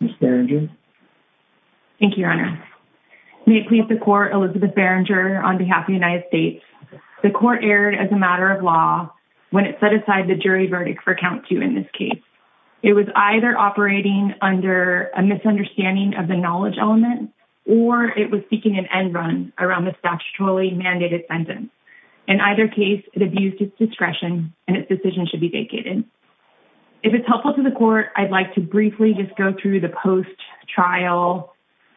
Elizabeth Beringer May it please the court, Elizabeth Beringer on behalf of the United States. The court erred as a matter of law when it set aside the jury verdict for Count 2 in this case. It was either operating under a misunderstanding of the knowledge element or it was seeking an end run around the statutorily mandated sentence. In either case it abused its discretion and its decision should be vacated. If it's helpful to the court, I'd like to just go through the post-trial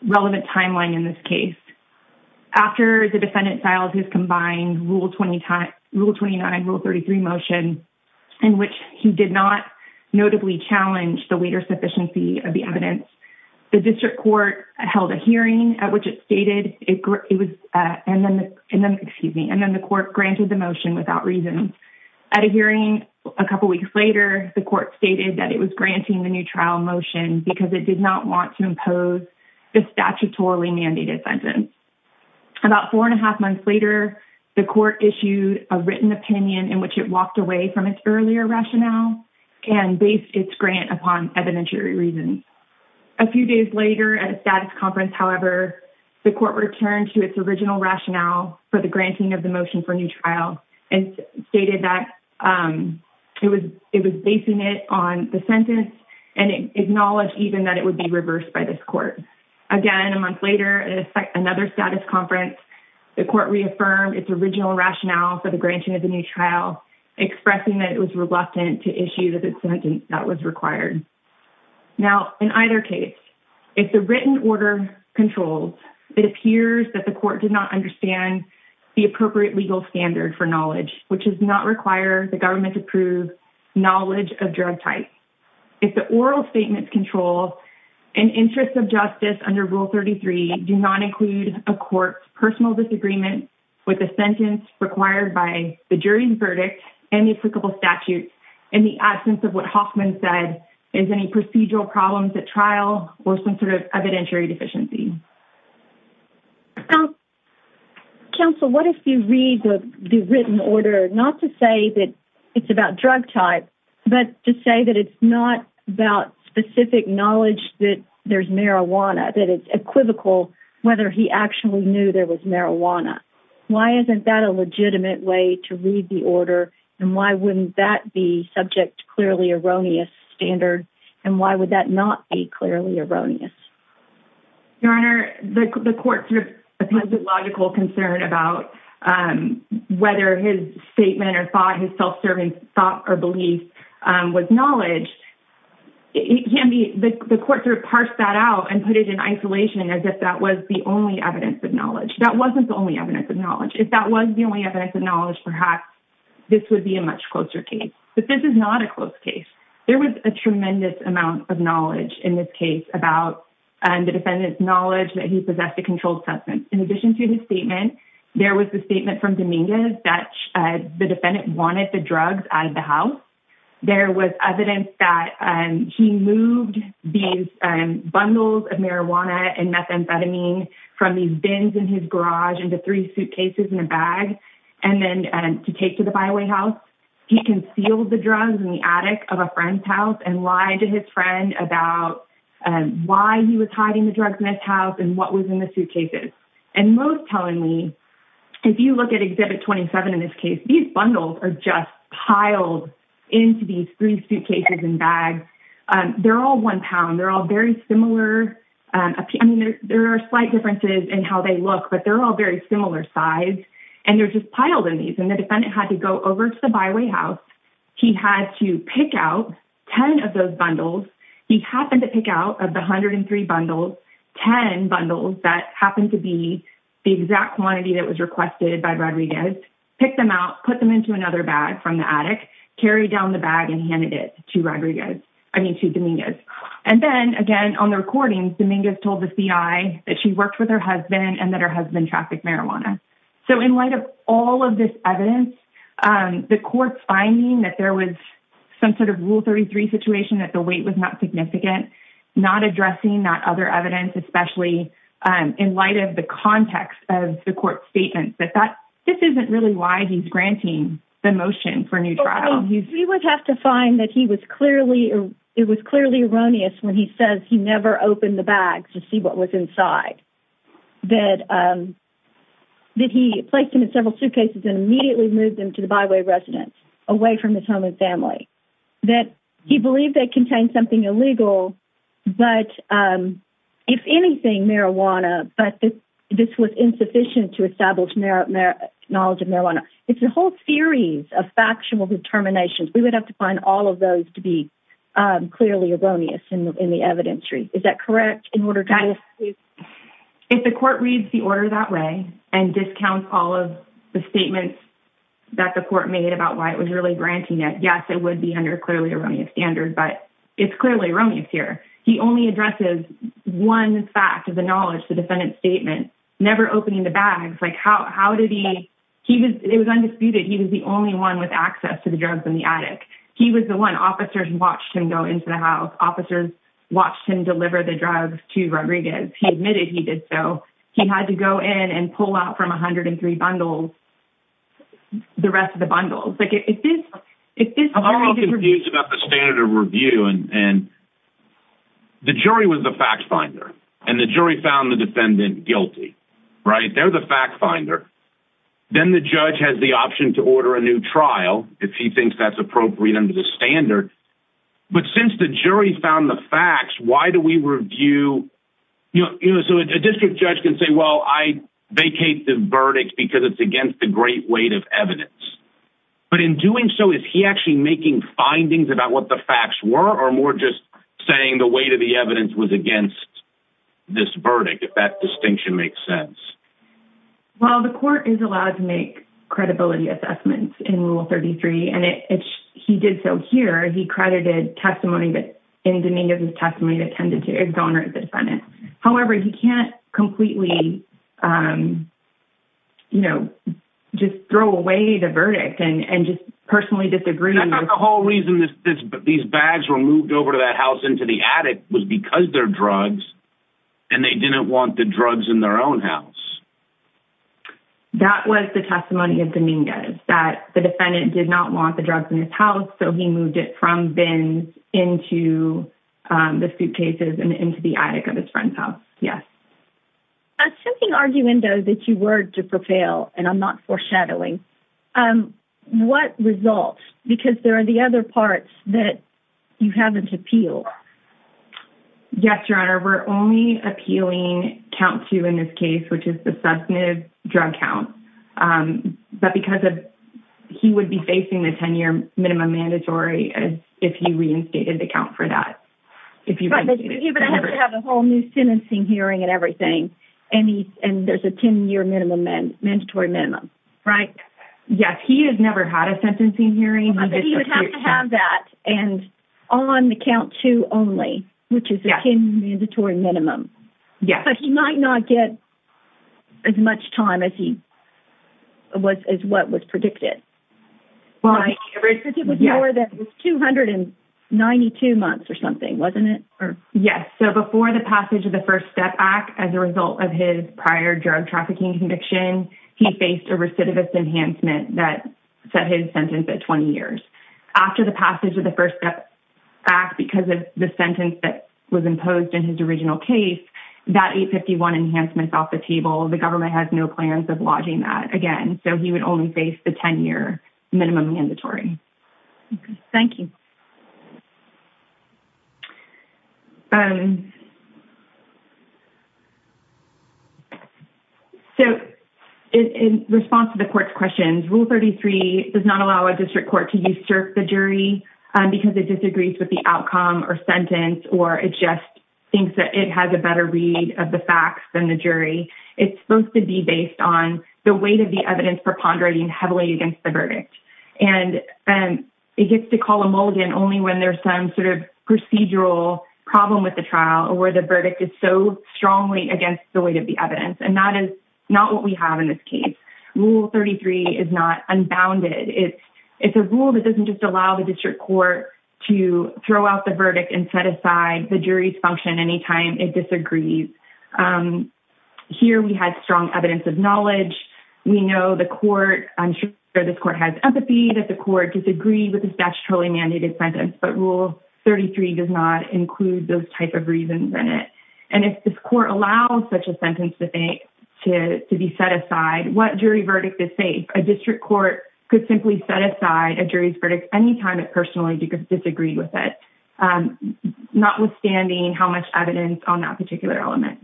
relevant timeline in this case. After the defendant filed his combined Rule 29, Rule 33 motion, in which he did not notably challenge the later sufficiency of the evidence, the district court held a hearing at which it stated and then the court granted the motion without reason. At a hearing a couple weeks later, the court stated that it was granting the new trial motion because it did not want to impose the statutorily mandated sentence. About four and a half months later, the court issued a written opinion in which it walked away from its earlier rationale and based its grant upon evidentiary reasons. A few days later at a status conference, however, the court returned to its original rationale for the granting of the motion for new trial and stated that it was basing it on the sentence and acknowledged even that it would be reversed by this court. Again, a month later at another status conference, the court reaffirmed its original rationale for the granting of the new trial, expressing that it was reluctant to issue the sentence that was required. Now, in either case, if the written order controls, it appears that the court did not understand the appropriate legal standard for knowledge, which does not require the government to prove knowledge of drug type. If the oral statements control an interest of justice under Rule 33 do not include a court's personal disagreement with the sentence required by the jury's verdict and the applicable statute in the absence of what Hoffman said is any procedural problems at trial or some sort of evidentiary deficiency. Counsel, what if you read the written order not to say that it's about drug type, but to say that it's not about specific knowledge that there's marijuana, that it's equivocal whether he actually knew there was marijuana? Why isn't that a legitimate way to read the order and why wouldn't that be subject to clearly erroneous standard and why would that not be clearly erroneous? Your Honor, the court's logical concern about whether his statement or thought, his self-serving thought or belief was knowledge. The court parsed that out and put it in isolation as if that was the only evidence of knowledge. That wasn't the only evidence of knowledge. If that was the only evidence of knowledge, perhaps this would be a much closer case. But this is not a close case. There was a tremendous amount of knowledge in this case about the defendant's knowledge that he possessed a controlled substance. In addition to his statement, there was the statement from Dominguez that the defendant wanted the drugs out of the house. There was evidence that he moved these bundles of marijuana and methamphetamine from these bins in his garage into three suitcases in a bag and then to take to the byway house. He concealed the drugs in the attic of a friend's house and lied to his friend about why he was hiding the drugs in his house and what was in the suitcases. And most tellingly, if you look at Exhibit 27 in this case, these bundles are just piled into these three suitcases and bags. They're all one pound. They're all very similar. There are slight differences in how they look, but they're all very similar size. And they're just piled in these. And the defendant had to go over to the byway house. He had to pick out 10 of those bundles. He happened to pick out of the 103 bundles, 10 bundles that happened to be the exact quantity that was requested by Rodriguez, picked them out, put them into another bag from the attic, carried down the bag and handed it to Rodriguez. I mean, to Dominguez. And then again, on the recording, Dominguez told the C.I. that she worked with her husband and that her husband trafficked marijuana. So in light of all of this evidence, the court's finding that there was some sort of Rule 33 situation, that the weight was not significant, not addressing that other evidence, especially in light of the context of the court's statement. But this isn't really why he's granting the motion for a new trial. He would have to find that it was clearly erroneous when he says he never opened the side, that he placed him in several suitcases and immediately moved him to the byway residence, away from his home and family, that he believed they contained something illegal. But if anything, marijuana, but this was insufficient to establish knowledge of marijuana. It's a whole series of factional determinations. We would have to find all of those to be clearly erroneous in the evidentiary. Is that correct? In order to if the court reads the order that way and discounts all of the statements that the court made about why it was really granting it, yes, it would be under clearly erroneous standards. But it's clearly erroneous here. He only addresses one fact of the knowledge, the defendant's statement, never opening the bags. Like how did he he was it was undisputed. He was the only one with access to the drugs in the attic. He was the one officers watched him into the house. Officers watched him deliver the drugs to Rodriguez. He admitted he did so. He had to go in and pull out from 103 bundles the rest of the bundles. I'm a little confused about the standard of review. And the jury was the fact finder and the jury found the defendant guilty, right? They're the fact finder. Then the judge has the option to order a new trial if he thinks that's appropriate under the standard. But since the jury found the facts, why do we review, you know, so a district judge can say, well, I vacate the verdict because it's against the great weight of evidence. But in doing so, is he actually making findings about what the facts were or more just saying the weight of the evidence was against this verdict, if that distinction makes sense? Well, the court is allowed to make credibility assessments in Rule 33, and he did so here. He credited testimony that in Dominguez's testimony that tended to exonerate the defendant. However, he can't completely, you know, just throw away the verdict and just personally disagree. That's not the whole reason that these bags were moved over to that house into the attic was because they're drugs and they didn't want the drugs in their own house. That was the testimony of Dominguez, that the defendant did not want the drugs in his house, so he moved it from bins into the suitcases and into the attic of his friend's house. Yes. Assuming arguendo that you were to prevail, and I'm not foreshadowing, what results, because there are the other parts that you haven't appealed. Yes, Your Honor, we're only appealing count two in this case, which is the substantive drug count. But because of he would be facing the 10-year minimum mandatory as if he reinstated the count for that. But he would have to have a whole new sentencing hearing and everything, and there's a 10-year mandatory minimum, right? Yes, he has never had a sentencing hearing. But he would have to have that and on the count two only, which is the 10-year mandatory minimum. Yes. But he might not get as much time as what was predicted. It was more than 292 months or something, wasn't it? Yes, so before the passage of the First Step Act, as a result of his prior drug trafficking conviction, he faced a recidivist enhancement that set his sentence at 20 years. After the passage of the First Step Act, because of the sentence that was imposed in his original case, that 851 enhancement's off the table. The government has no plans of lodging that again. So he would only face the 10-year minimum mandatory. Okay, thank you. So in response to the court's questions, Rule 33 does not allow a district court to usurp the jury because it disagrees with the outcome or sentence or it just thinks that it has a better read of the facts than the jury. It's supposed to be based on the weight of the evidence for pondering heavily against the verdict. And it gets to call a mulligan only when there's some sort of procedural problem with the trial or where the verdict is so strongly against the weight of the evidence. And that is not what we have in this case. Rule 33 is not unbounded. It's a rule that doesn't just allow the district court to throw out the verdict and set aside the jury's function anytime it disagrees. Here we had strong evidence of knowledge. We know the court, I'm sure this court has empathy that the court disagreed with the statutorily mandated sentence, but Rule 33 does not include those type of reasons in it. And if this court allows such a sentence to be set aside, what jury verdict is safe? A district court could simply set aside a jury's verdict any time it personally disagrees with it, notwithstanding how much evidence on that particular element.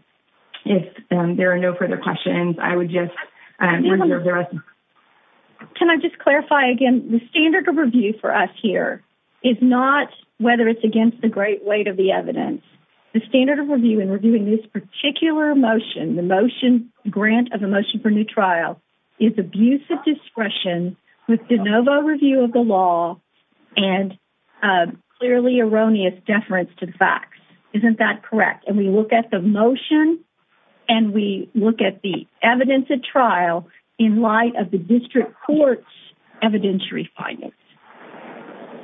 If there are no further questions, I would just reserve the rest. Can I just clarify again, the standard of review for us here is not whether it's against the great weight of the evidence. The standard of review in reviewing this particular motion, the motion grant of a motion for new trial is abusive discretion with de novo review of the law and clearly erroneous deference to the facts. Isn't that correct? And we look at the motion and we look at the evidence of trial in light of the district court's evidentiary findings.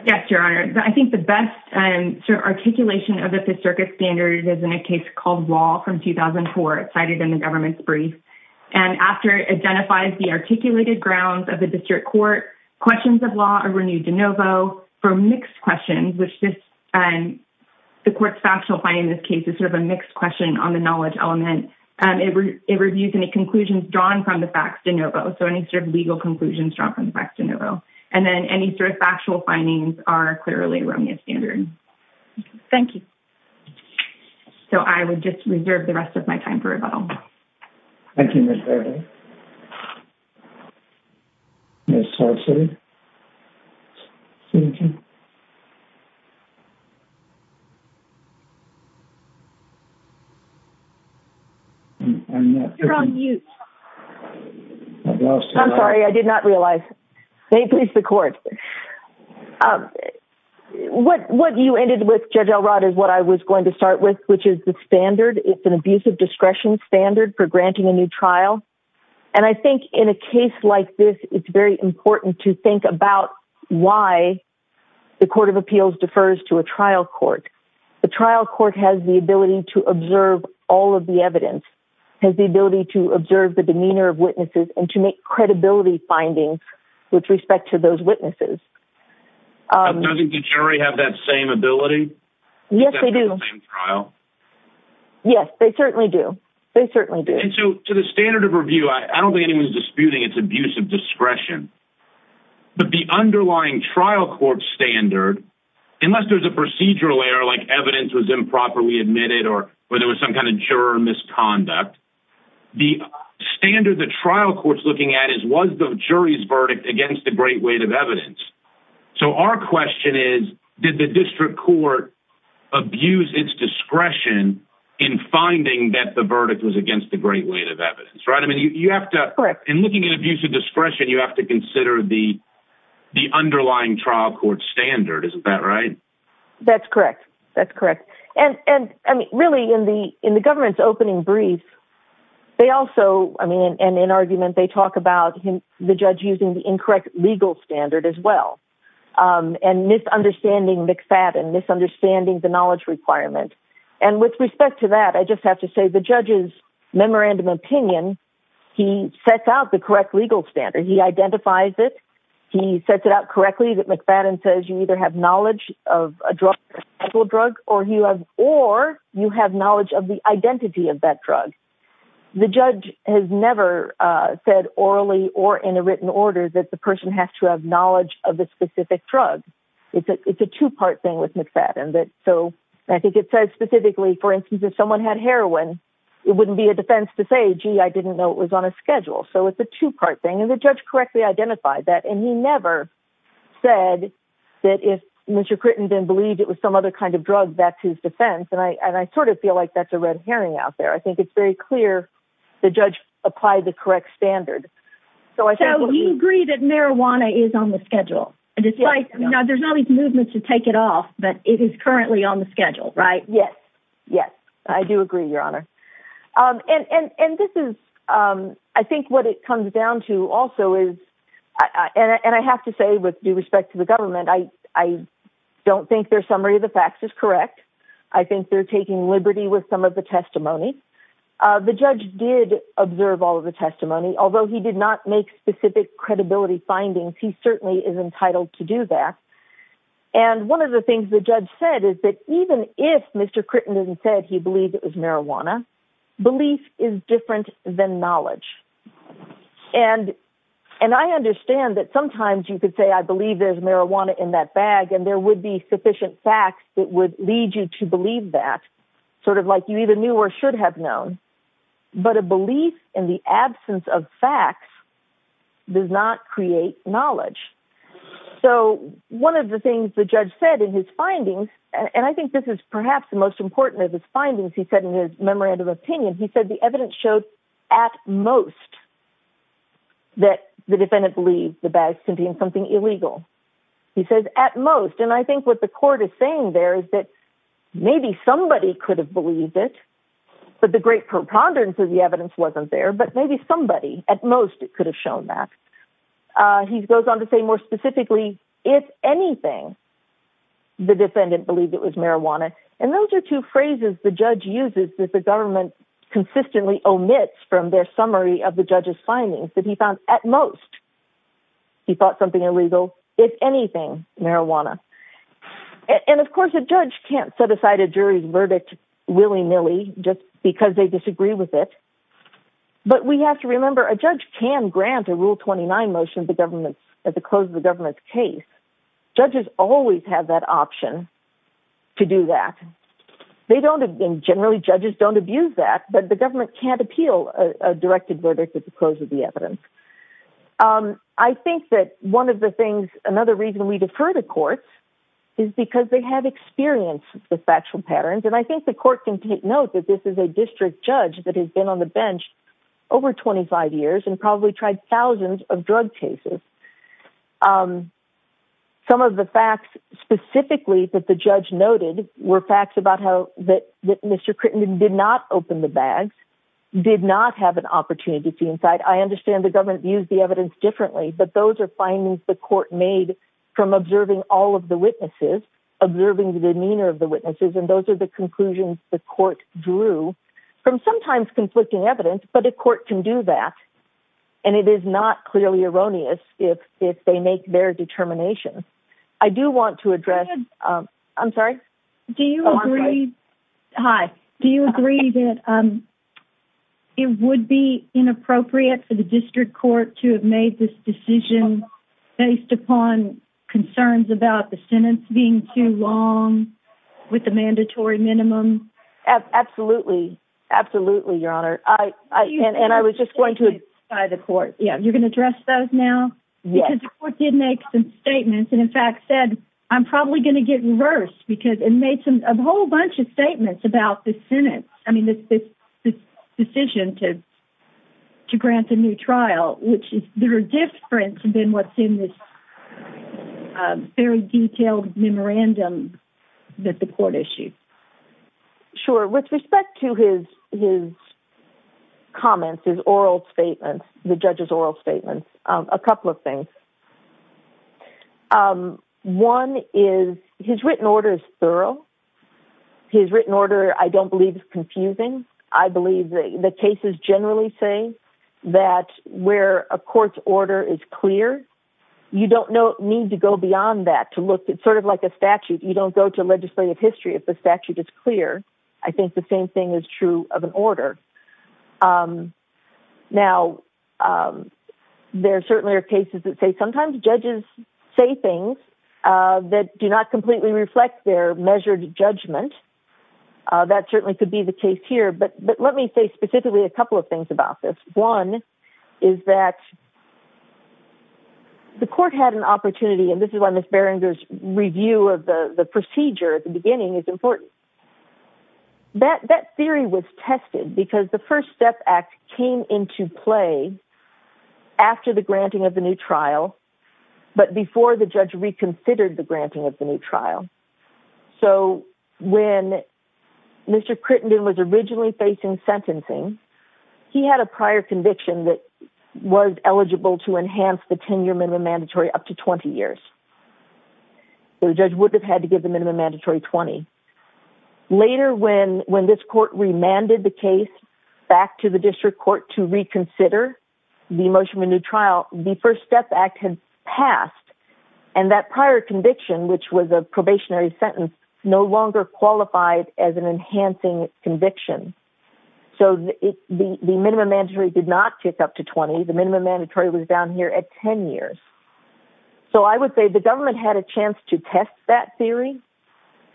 Yes, your honor. I think the best articulation of the circuit standard is in a case called law from 2004 cited in the government's brief. And after it identifies the articulated grounds of the district court, questions of law are renewed de novo for mixed questions, which the court's factual finding in this case is sort of a mixed question on the knowledge element. It reviews any conclusions drawn from the facts de novo. So any sort of legal conclusions drawn from the facts de novo. And then any sort of factual findings are clearly erroneous standard. Thank you. So I would just reserve the rest of my time for rebuttal. Thank you, Ms. Baird. Ms. Salcid. I'm sorry, I did not realize. May it please the court. What you ended with Judge Elrod is what I was going to start with, which is the standard. It's abusive discretion standard for granting a new trial. And I think in a case like this, it's very important to think about why the court of appeals defers to a trial court. The trial court has the ability to observe all of the evidence, has the ability to observe the demeanor of witnesses and to make credibility findings with respect to those witnesses. Doesn't the jury have that same ability? Yes, they do. Trial. Yes, they certainly do. They certainly do. And so to the standard of review, I don't think anyone's disputing it's abusive discretion, but the underlying trial court standard, unless there's a procedural error, like evidence was improperly admitted or where there was some kind of juror misconduct. The standard, the trial court's looking at is, was the jury's verdict against the great weight of evidence. So our question is, did the district court abuse its discretion in finding that the verdict was against the great weight of evidence, right? I mean, you have to, in looking at abusive discretion, you have to consider the underlying trial court standard. Isn't that right? That's correct. That's correct. And, and I mean, really in the, in the government's opening brief, they also, I mean, and in argument, they talk about him, the judge using the incorrect legal standard as well. And misunderstanding McFadden, misunderstanding the knowledge requirement. And with respect to that, I just have to say the judge's memorandum opinion, he sets out the correct legal standard. He identifies it. He sets it out correctly that McFadden says you either have knowledge of a drug or you have, or you have knowledge of the identity of that drug. The judge has never said or in a written order that the person has to have knowledge of the specific drug. It's a two-part thing with McFadden that, so I think it says specifically, for instance, if someone had heroin, it wouldn't be a defense to say, gee, I didn't know it was on a schedule. So it's a two-part thing. And the judge correctly identified that. And he never said that if Mr. Crittenden believed it was some other kind of drug, that's his defense. And I, and I sort of feel like that's a red herring out there. I think it's very clear the judge applied the correct standard. So you agree that marijuana is on the schedule and it's like, you know, there's all these movements to take it off, but it is currently on the schedule, right? Yes. Yes. I do agree your honor. And, and, and this is I think what it comes down to also is, and I have to say with due respect to the government, I, I don't think their summary of the facts is correct. I think they're taking liberty with some of the testimony. The judge did observe all of the testimony, although he did not make specific credibility findings. He certainly is entitled to do that. And one of the things the judge said is that even if Mr. Crittenden said, he believed it was marijuana, belief is different than knowledge. And, and I understand that sometimes you could say, I believe there's marijuana in that bag, and there would be sufficient facts that would lead you to believe that sort of like you even knew or should have known, but a belief in the absence of facts does not create knowledge. So one of the things the judge said in his findings, and I think this is perhaps the most important of his findings, he said in his memorandum of opinion, he said the evidence showed at most that the defendant believes the bags can be in something illegal. He says at most, and I think what the court is saying there is that maybe somebody could have believed it, but the great preponderance of the evidence wasn't there, but maybe somebody at most could have shown that. He goes on to say more specifically, if anything, the defendant believed it was marijuana. And those are two phrases the judge uses that the government consistently omits from their summary of the judge's findings that he found at most, he thought something illegal, if anything, marijuana. And of course, a judge can't set just because they disagree with it. But we have to remember a judge can grant a rule 29 motion at the close of the government's case. Judges always have that option to do that. They don't, and generally judges don't abuse that, but the government can't appeal a directed verdict at the close of the evidence. I think that one of the things, another reason we defer to courts is because they have experience with factual patterns. And I think the court can take note that this is a district judge that has been on the bench over 25 years and probably tried thousands of drug cases. Some of the facts specifically that the judge noted were facts about how that Mr. Crittenden did not open the bags, did not have an opportunity to see inside. I understand the government views the evidence differently, but those are findings the court made from observing all of the witnesses, observing the demeanor of the witnesses. And those are the conclusions the court drew from sometimes conflicting evidence, but a court can do that. And it is not clearly erroneous if they make their determination. I do want to address, I'm sorry. Do you agree? Hi. Do you agree that it would be inappropriate for the district court to have made this decision based upon concerns about the sentence being too long with the absolutely, absolutely. Your honor. I, I, and, and I was just going to the court. Yeah. You're going to address those now because the court did make some statements and in fact said, I'm probably going to get reversed because it made some, a whole bunch of statements about the Senate. I mean, this, this decision to, to grant a new trial, which is different than what's in this very detailed memorandum that the court issued. Sure. With respect to his, his comments, his oral statements, the judge's oral statements, a couple of things. One is his written order is thorough. His written order. I don't believe it's confusing. I believe that the cases generally say that where a court's order is clear, you don't know, need to go beyond that to look at sort of like a statute. You don't go to legislative history. If the statute is clear, I think the same thing is true of an order. Now there certainly are cases that say sometimes judges say things that do not completely reflect their measured judgment. Uh, that certainly could be the case here, but, but let me say specifically a couple of things about this. One is that the court had an opportunity, and this is why Ms. Beringer's review of the procedure at the beginning is important. That, that theory was tested because the first step act came into play after the granting of the new trial. So when Mr. Crittenden was originally facing sentencing, he had a prior conviction that was eligible to enhance the 10-year minimum mandatory up to 20 years. So the judge would have had to give them a mandatory 20. Later when, when this court remanded the case back to the district court to reconsider the motion of a new trial, the first step act had passed and that prior conviction, which was a probationary sentence, no longer qualified as an enhancing conviction. So it, the, the minimum mandatory did not kick up to 20. The minimum mandatory was down here at 10 years. So I would say the government had a chance to test that theory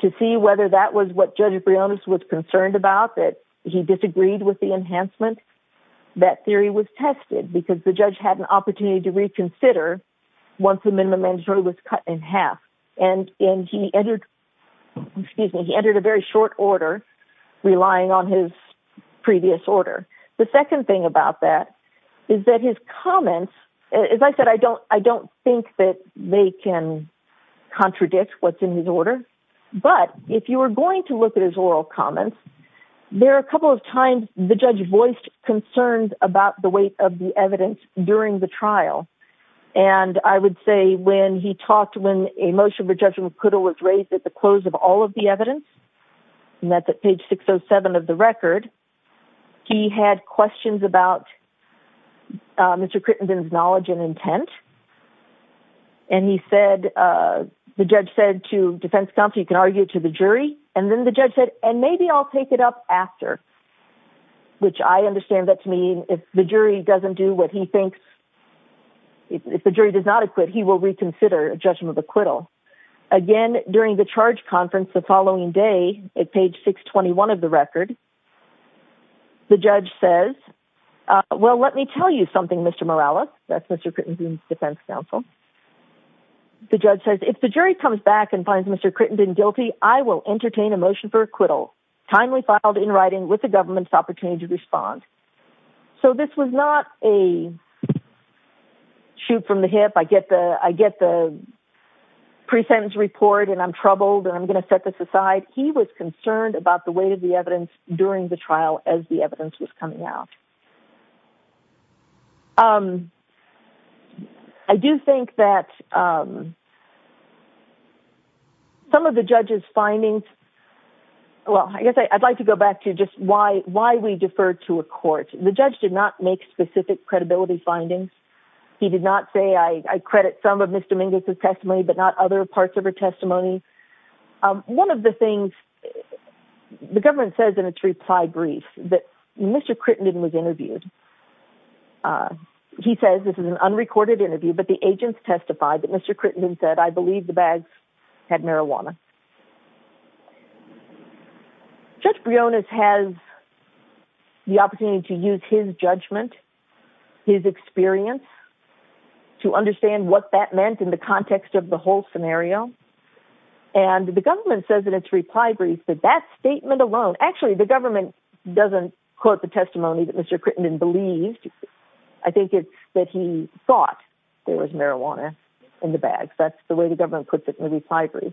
to see whether that was what Judge Briones was concerned about, that he disagreed with the enhancement. That theory was tested because the judge had an opportunity to reconsider once the minimum mandatory was cut in half. And, and he entered, excuse me, he entered a very short order relying on his previous order. The second thing about that is that his comments, as I said, I don't, I don't think that they can contradict what's in his order, but if you were going to his oral comments, there are a couple of times the judge voiced concerns about the weight of the evidence during the trial. And I would say when he talked, when a motion for judgment was raised at the close of all of the evidence, and that's at page 607 of the record, he had questions about Mr. Crittenden's knowledge and intent. And he said, the judge said to defense counsel, argue to the jury. And then the judge said, and maybe I'll take it up after, which I understand that to mean if the jury doesn't do what he thinks, if the jury does not acquit, he will reconsider a judgment of acquittal. Again, during the charge conference, the following day at page 621 of the record, the judge says, well, let me tell you something, Mr. Morales, that's Mr. Crittenden's defense I will entertain a motion for acquittal. Timely filed in writing with the government's opportunity to respond. So this was not a shoot from the hip. I get the pre-sentence report and I'm troubled and I'm going to set this aside. He was concerned about the weight of the evidence during the trial as the evidence was coming out. I do think that some of the judge's findings, well, I guess I'd like to go back to just why we defer to a court. The judge did not make specific credibility findings. He did not say I credit some of Ms. Dominguez's testimony, but not other parts of her testimony. One of the things the government says in its reply brief that Mr. Crittenden was interviewed. He says, this is an unrecorded interview, but the agents testified that Mr. Crittenden said, I believe the bags had marijuana. Judge Briones has the opportunity to use his judgment, his experience to understand what that meant in the context of the whole scenario. And the government says in its reply brief that that statement alone, actually the government doesn't quote the testimony that Mr. Crittenden believed. I think it's that he thought there was marijuana in the bags. That's the way the government puts it in the reply brief.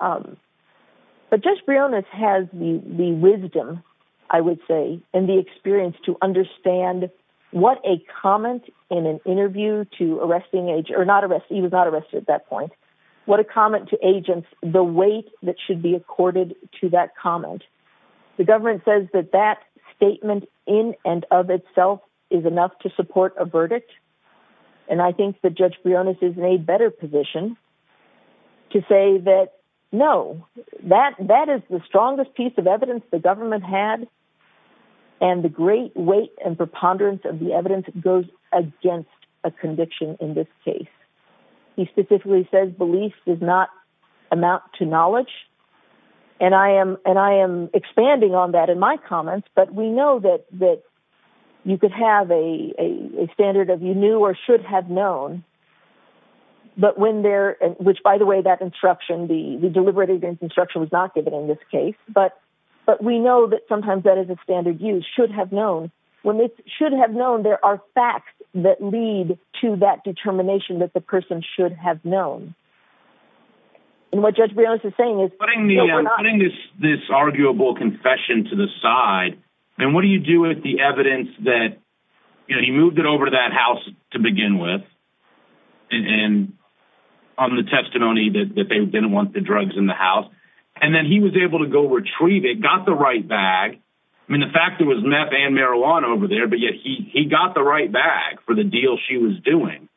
But Judge Briones has the wisdom, I would say, and the experience to understand what a comment in an interview to arresting agents or not arrest, he was not arrested at that point. What a comment to agents, the weight that should be accorded to that comment. Government says that that statement in and of itself is enough to support a verdict. And I think that Judge Briones is in a better position to say that, no, that is the strongest piece of evidence the government had. And the great weight and preponderance of the evidence goes against a conviction in this case. He specifically says belief does not amount to that in my comments. But we know that you could have a standard of you knew or should have known. But when there, which by the way, that instruction, the deliberative instruction was not given in this case. But we know that sometimes that is a standard use, should have known. When it's should have known, there are facts that lead to that determination that the person should have to the side. And what do you do with the evidence that, you know, he moved it over to that house to begin with and on the testimony that they didn't want the drugs in the house. And then he was able to go retrieve it, got the right bag. I mean, the fact that it was meth and marijuana over there, but yet he got the right bag for the deal she was doing.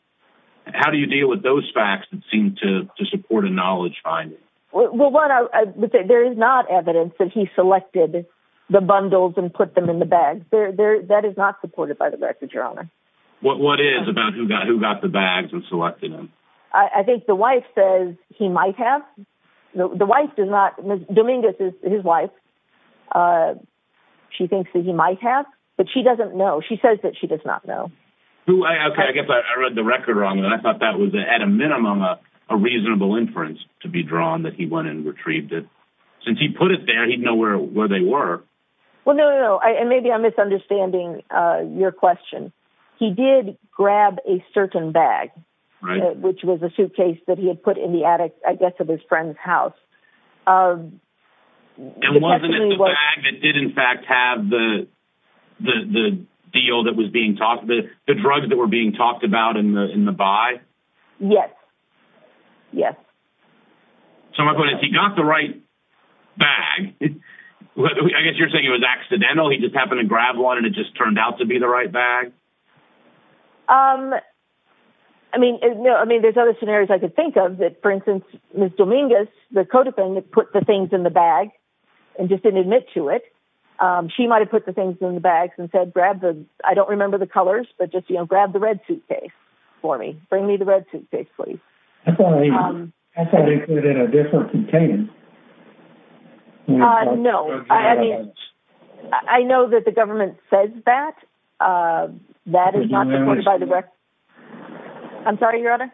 How do you deal with those facts that seem to support a knowledge finding? Well, what I would say, there is not evidence that he selected the bundles and put them in the bag there. That is not supported by the record, your honor. What what is about who got who got the bags and selected them? I think the wife says he might have the wife did not. Dominguez is his wife. She thinks that he might have, but she doesn't know. She says that she does not know. OK, I guess I read the record wrong. And I thought that was at a minimum, a reasonable inference to be drawn that he went and retrieved it. Since he put it there, he'd know where where they were. Well, no, no. And maybe I'm misunderstanding your question. He did grab a certain bag, which was a suitcase that he had put in the attic, I guess, of his friend's house. And wasn't it the bag that did, in fact, have the deal that was being talked about, the drugs that were being talked about in the in the buy? Yes. Yes. So my point is he got the right bag. I guess you're saying it was accidental. He just happened to grab one and it just turned out to be the right bag. I mean, I mean, there's other scenarios I could think of that, for instance, Miss Dominguez, the codefendant, put the things in the bag and just didn't admit to it. She might have put the things in the bags and said, grab the I don't remember the colors, but just, you know, grab the red suitcase for me. Bring me the red suitcase, please. I thought he put it in a different container. No, I mean, I know that the government says that that is not supported by the record. I'm sorry, Your Honor.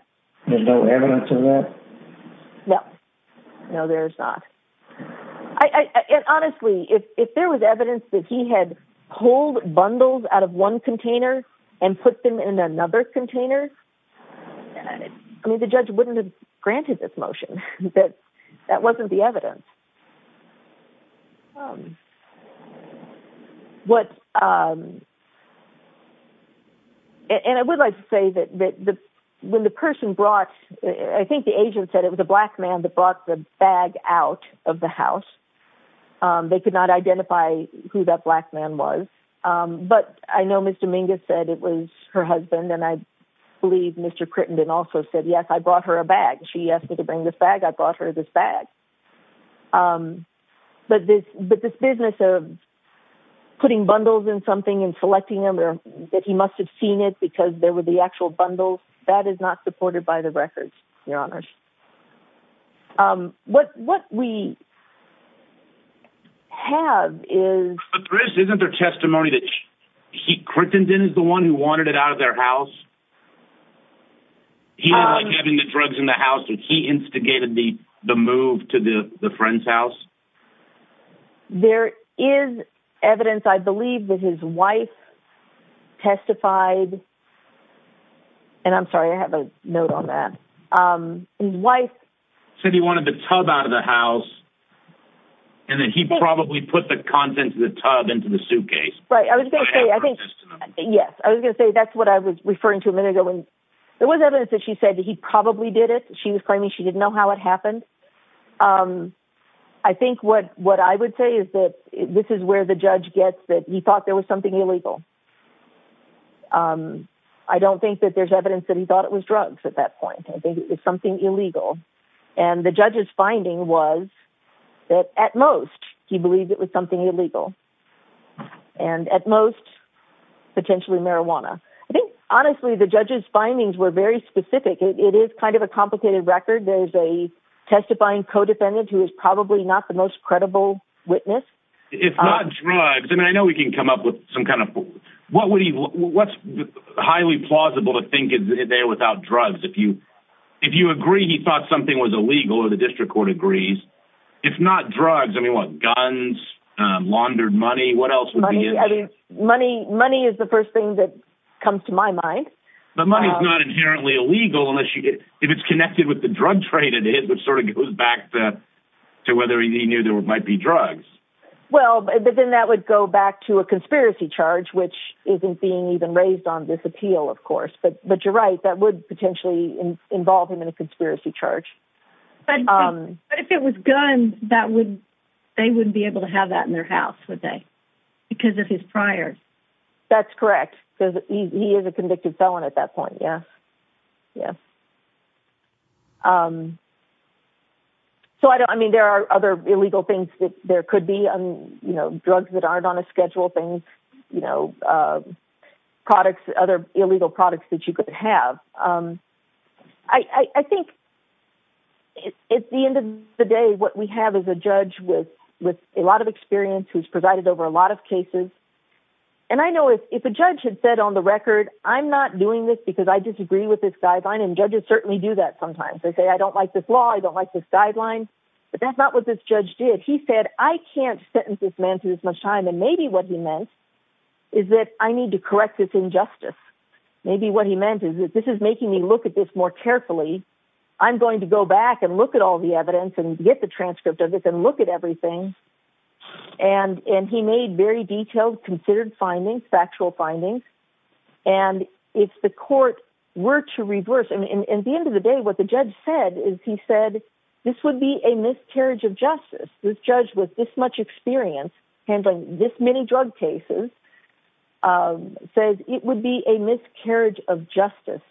There's no evidence of that? No, no, there's not. And honestly, if there was evidence that he had pulled bundles out of one container and put them in another container, I mean, the judge wouldn't have granted this motion that that wasn't the evidence. What? And I would like to say that when the person brought, I think the agent said it was a black man that brought the bag out of the house. They could not identify who that black man was. But I know Miss Dominguez said it was her husband. And I believe Mr. Crittenden also said, yes, I brought her a bag. She asked me to bring this bag. I brought her this bag. But this business of putting bundles in something and selecting them or that he must have seen it because there were the actual bundles, that is not supported by the records, Your Honor. What we have is... But Chris, isn't there testimony that he, Crittenden is the one who wanted it out of their house? He was like having the drugs in the house and he instigated the move to the friend's house? There is evidence, I believe, that his wife testified. And I'm sorry, I have a note on that. His wife said he wanted the tub out of the house and that he probably put the contents of the tub into the suitcase. Right. I was going to say, I think, yes, I was going to say that's what I was referring to a minute ago. And there was evidence that she said that he probably did it. She was claiming she didn't know how it happened. I think what I would say is that this is where the judge gets that he thought there was something illegal. I don't think that there's evidence that he thought it was drugs at that point. I think it was something illegal. And the judge's finding was that at most he believed it was something illegal and at most potentially marijuana. I think, honestly, the judge's findings were very specific. It is kind of a complicated record. There's a testifying co-defendant who is probably not the most credible witness. If not drugs, and I know we can come up with some kind of what's highly plausible to think is there without drugs. If you agree he thought something was illegal or the district court agrees. If not drugs, I mean, what, guns, laundered money, what else? Money is the first thing that comes to my mind. But money is not inherently illegal unless it's connected with the drug trade it is, which sort of goes back to whether he knew there might be drugs. Well, but then that would go back to a conspiracy charge, which isn't being even raised on this appeal, of course. But you're right. That would potentially involve him in a conspiracy charge. But if it was guns, they wouldn't be able to have that in their house, would they? Because of his prior. That's correct. Because he is a convicted felon at that point. Yes. Yes. So, I mean, there are other illegal things that there could be, you know, drugs that aren't on a schedule, things, you know, products, other illegal products that you could have. I think at the end of the day, what we have is a judge with a lot of experience who's over a lot of cases. And I know if a judge had said on the record, I'm not doing this because I disagree with this guideline. And judges certainly do that sometimes. They say, I don't like this law. I don't like this guideline. But that's not what this judge did. He said, I can't sentence this man to this much time. And maybe what he meant is that I need to correct this injustice. Maybe what he meant is that this is making me look at this more carefully. I'm going to go back and look at all the evidence and get the transcript of it and look at everything. And he made very detailed, considered findings, factual findings. And if the court were to reverse, I mean, at the end of the day, what the judge said is he said, this would be a miscarriage of justice. This judge with this much experience handling this many drug cases says it would be a miscarriage of justice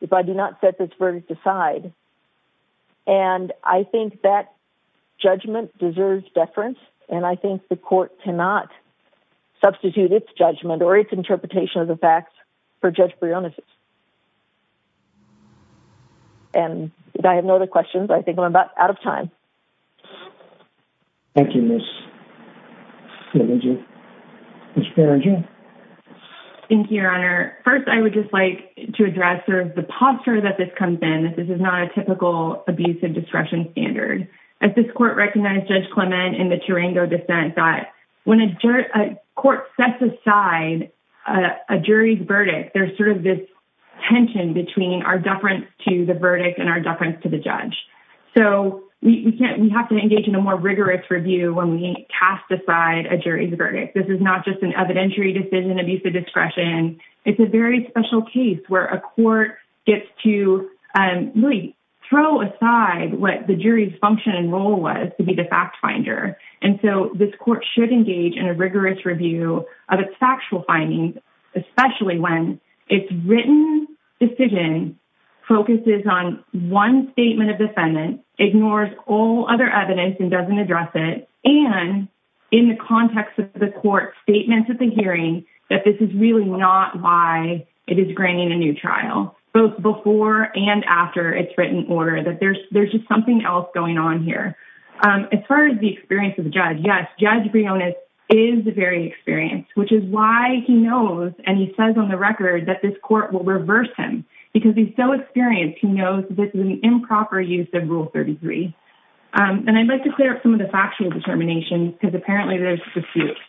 if I do not set this verdict aside. And I think that judgment deserves deference. And I think the court cannot substitute its judgment or its interpretation of the facts for Judge Briones's. And I have no other questions. I think I'm about out of time. Thank you, Miss. Thank you, Your Honor. First, I would just like to address the posture that this comes in. This is not a typical abuse of discretion standard. As this court recognized Judge Clement in the Tarango dissent that when a court sets aside a jury's verdict, there's sort of this tension between our deference to the verdict and our deference to the judge. So we have to engage in a more rigorous review when we cast aside a jury's verdict. This is not just an evidentiary decision discretion. It's a very special case where a court gets to really throw aside what the jury's function and role was to be the fact finder. And so this court should engage in a rigorous review of its factual findings, especially when it's written decision focuses on one statement of defendant, ignores all other evidence and doesn't address it. And in the context of the court statements at the hearing, that this is really not why it is granting a new trial, both before and after it's written order, that there's just something else going on here. As far as the experience of the judge, yes, Judge Briones is very experienced, which is why he knows and he says on the record that this court will reverse him because he's so experienced, he knows this is an improper use of Rule 33. And I'd like to clear up some of the factual determinations because apparently there's disputes.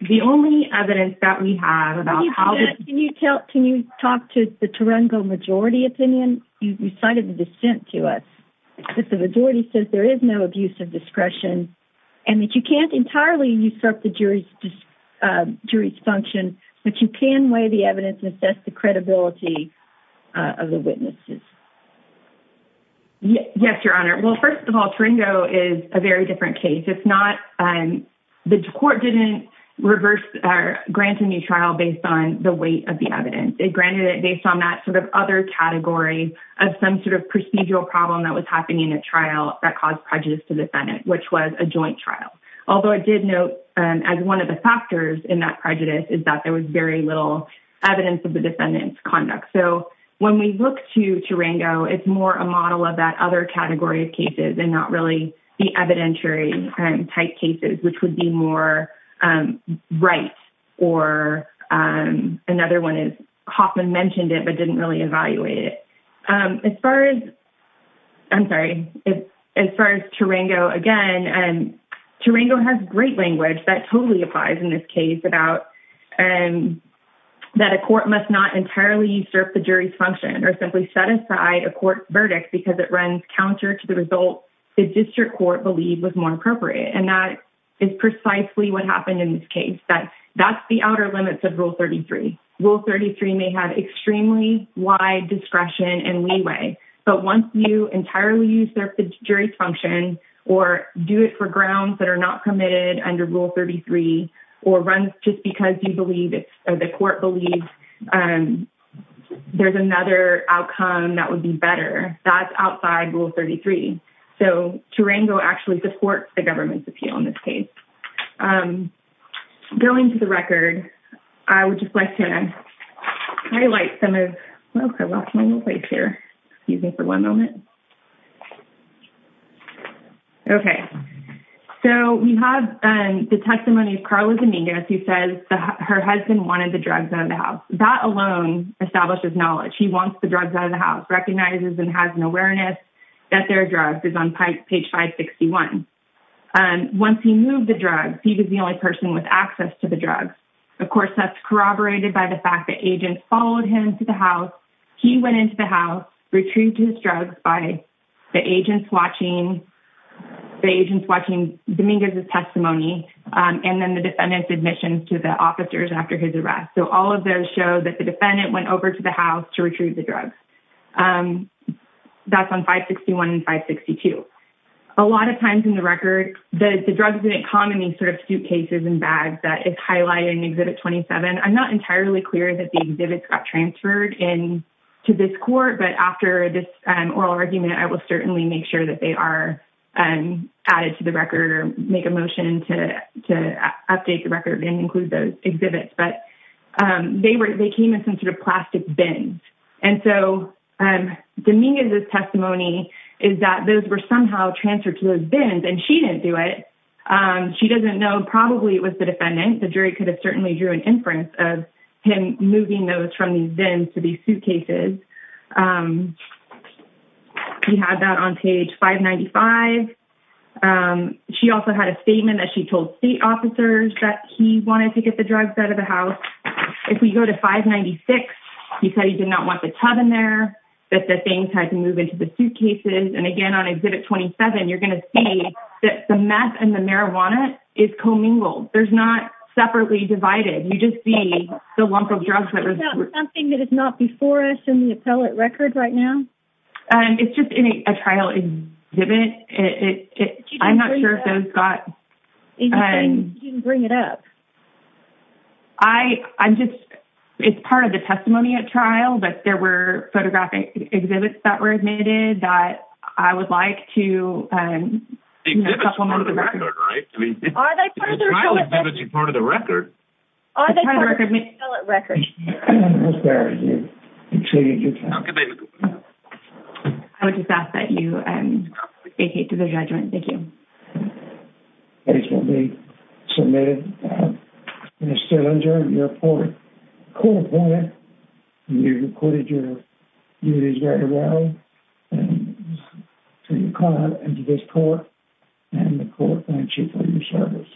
The only evidence that we have about how can you tell, can you talk to the Turango majority opinion, you cited the dissent to us, that the majority says there is no abuse of discretion and that you can't entirely usurp the jury's function, but you can weigh the evidence and assess the credibility of the witnesses. Yes, Your Honor. Well, first of all, Turango is a very different case. It's not, the court didn't reverse or grant a new trial based on the weight of the evidence. It granted it based on that sort of other category of some sort of procedural problem that was happening in a trial that caused prejudice to the defendant, which was a joint trial. Although I did note, as one of the factors in that prejudice is that there was very little evidence of the defendant's it's more a model of that other category of cases and not really the evidentiary type cases, which would be more right. Or another one is Hoffman mentioned it, but didn't really evaluate it. As far as, I'm sorry, as far as Turango, again, Turango has great language that totally applies in this case about that a court must not entirely usurp the jury's function or simply set aside a court verdict because it runs counter to the result the district court believed was more appropriate. And that is precisely what happened in this case. That's the outer limits of rule 33. Rule 33 may have extremely wide discretion and leeway, but once you entirely use their jury's function or do it for grounds that are not committed under rule 33, or runs just because you believe or the court believes there's another outcome that would be better, that's outside rule 33. So Turango actually supports the government's appeal in this case. Going to the record, I would just like to highlight some of, well, I lost my little her husband wanted the drugs out of the house. That alone establishes knowledge. He wants the drugs out of the house, recognizes and has an awareness that their drugs is on page 561. Once he moved the drugs, he was the only person with access to the drugs. Of course, that's corroborated by the fact that agents followed him to the house. He went into the house, retrieved his drugs by the agents watching, the agents watching Dominguez's testimony. And then the defendant's admission to the officers after his arrest. So all of those show that the defendant went over to the house to retrieve the drugs. That's on 561 and 562. A lot of times in the record, the drugs didn't come in these sort of suitcases and bags that is highlighted in exhibit 27. I'm not entirely clear that the exhibits got transferred in to this court, but after this oral argument, I will certainly make sure that they are added to the record or make a motion to update the record and include those exhibits. But they were, they came in some sort of plastic bins. And so Dominguez's testimony is that those were somehow transferred to those bins and she didn't do it. She doesn't know, probably it was the defendant. The jury could have certainly drew an inference of him moving those from these bins to suitcases. We had that on page 595. She also had a statement that she told state officers that he wanted to get the drugs out of the house. If we go to 596, he said he did not want the tub in there, that the things had to move into the suitcases. And again, on exhibit 27, you're going to see that the meth and the marijuana is commingled. There's not separately divided. You just see the lump of drugs. Something that is not before us in the appellate record right now. It's just in a trial exhibit. I'm not sure if those got. You can bring it up. I'm just, it's part of the testimony at trial, but there were photographic exhibits that were admitted that I would like to. Exhibits are part of the record, right? I mean, the trial exhibits are part of the record. Are they part of the appellate record? I would just ask that you vacate to the judgment. Thank you. Case will be submitted in a cylinder. You're a court appointment. You reported your court. And the court thanks you for your service.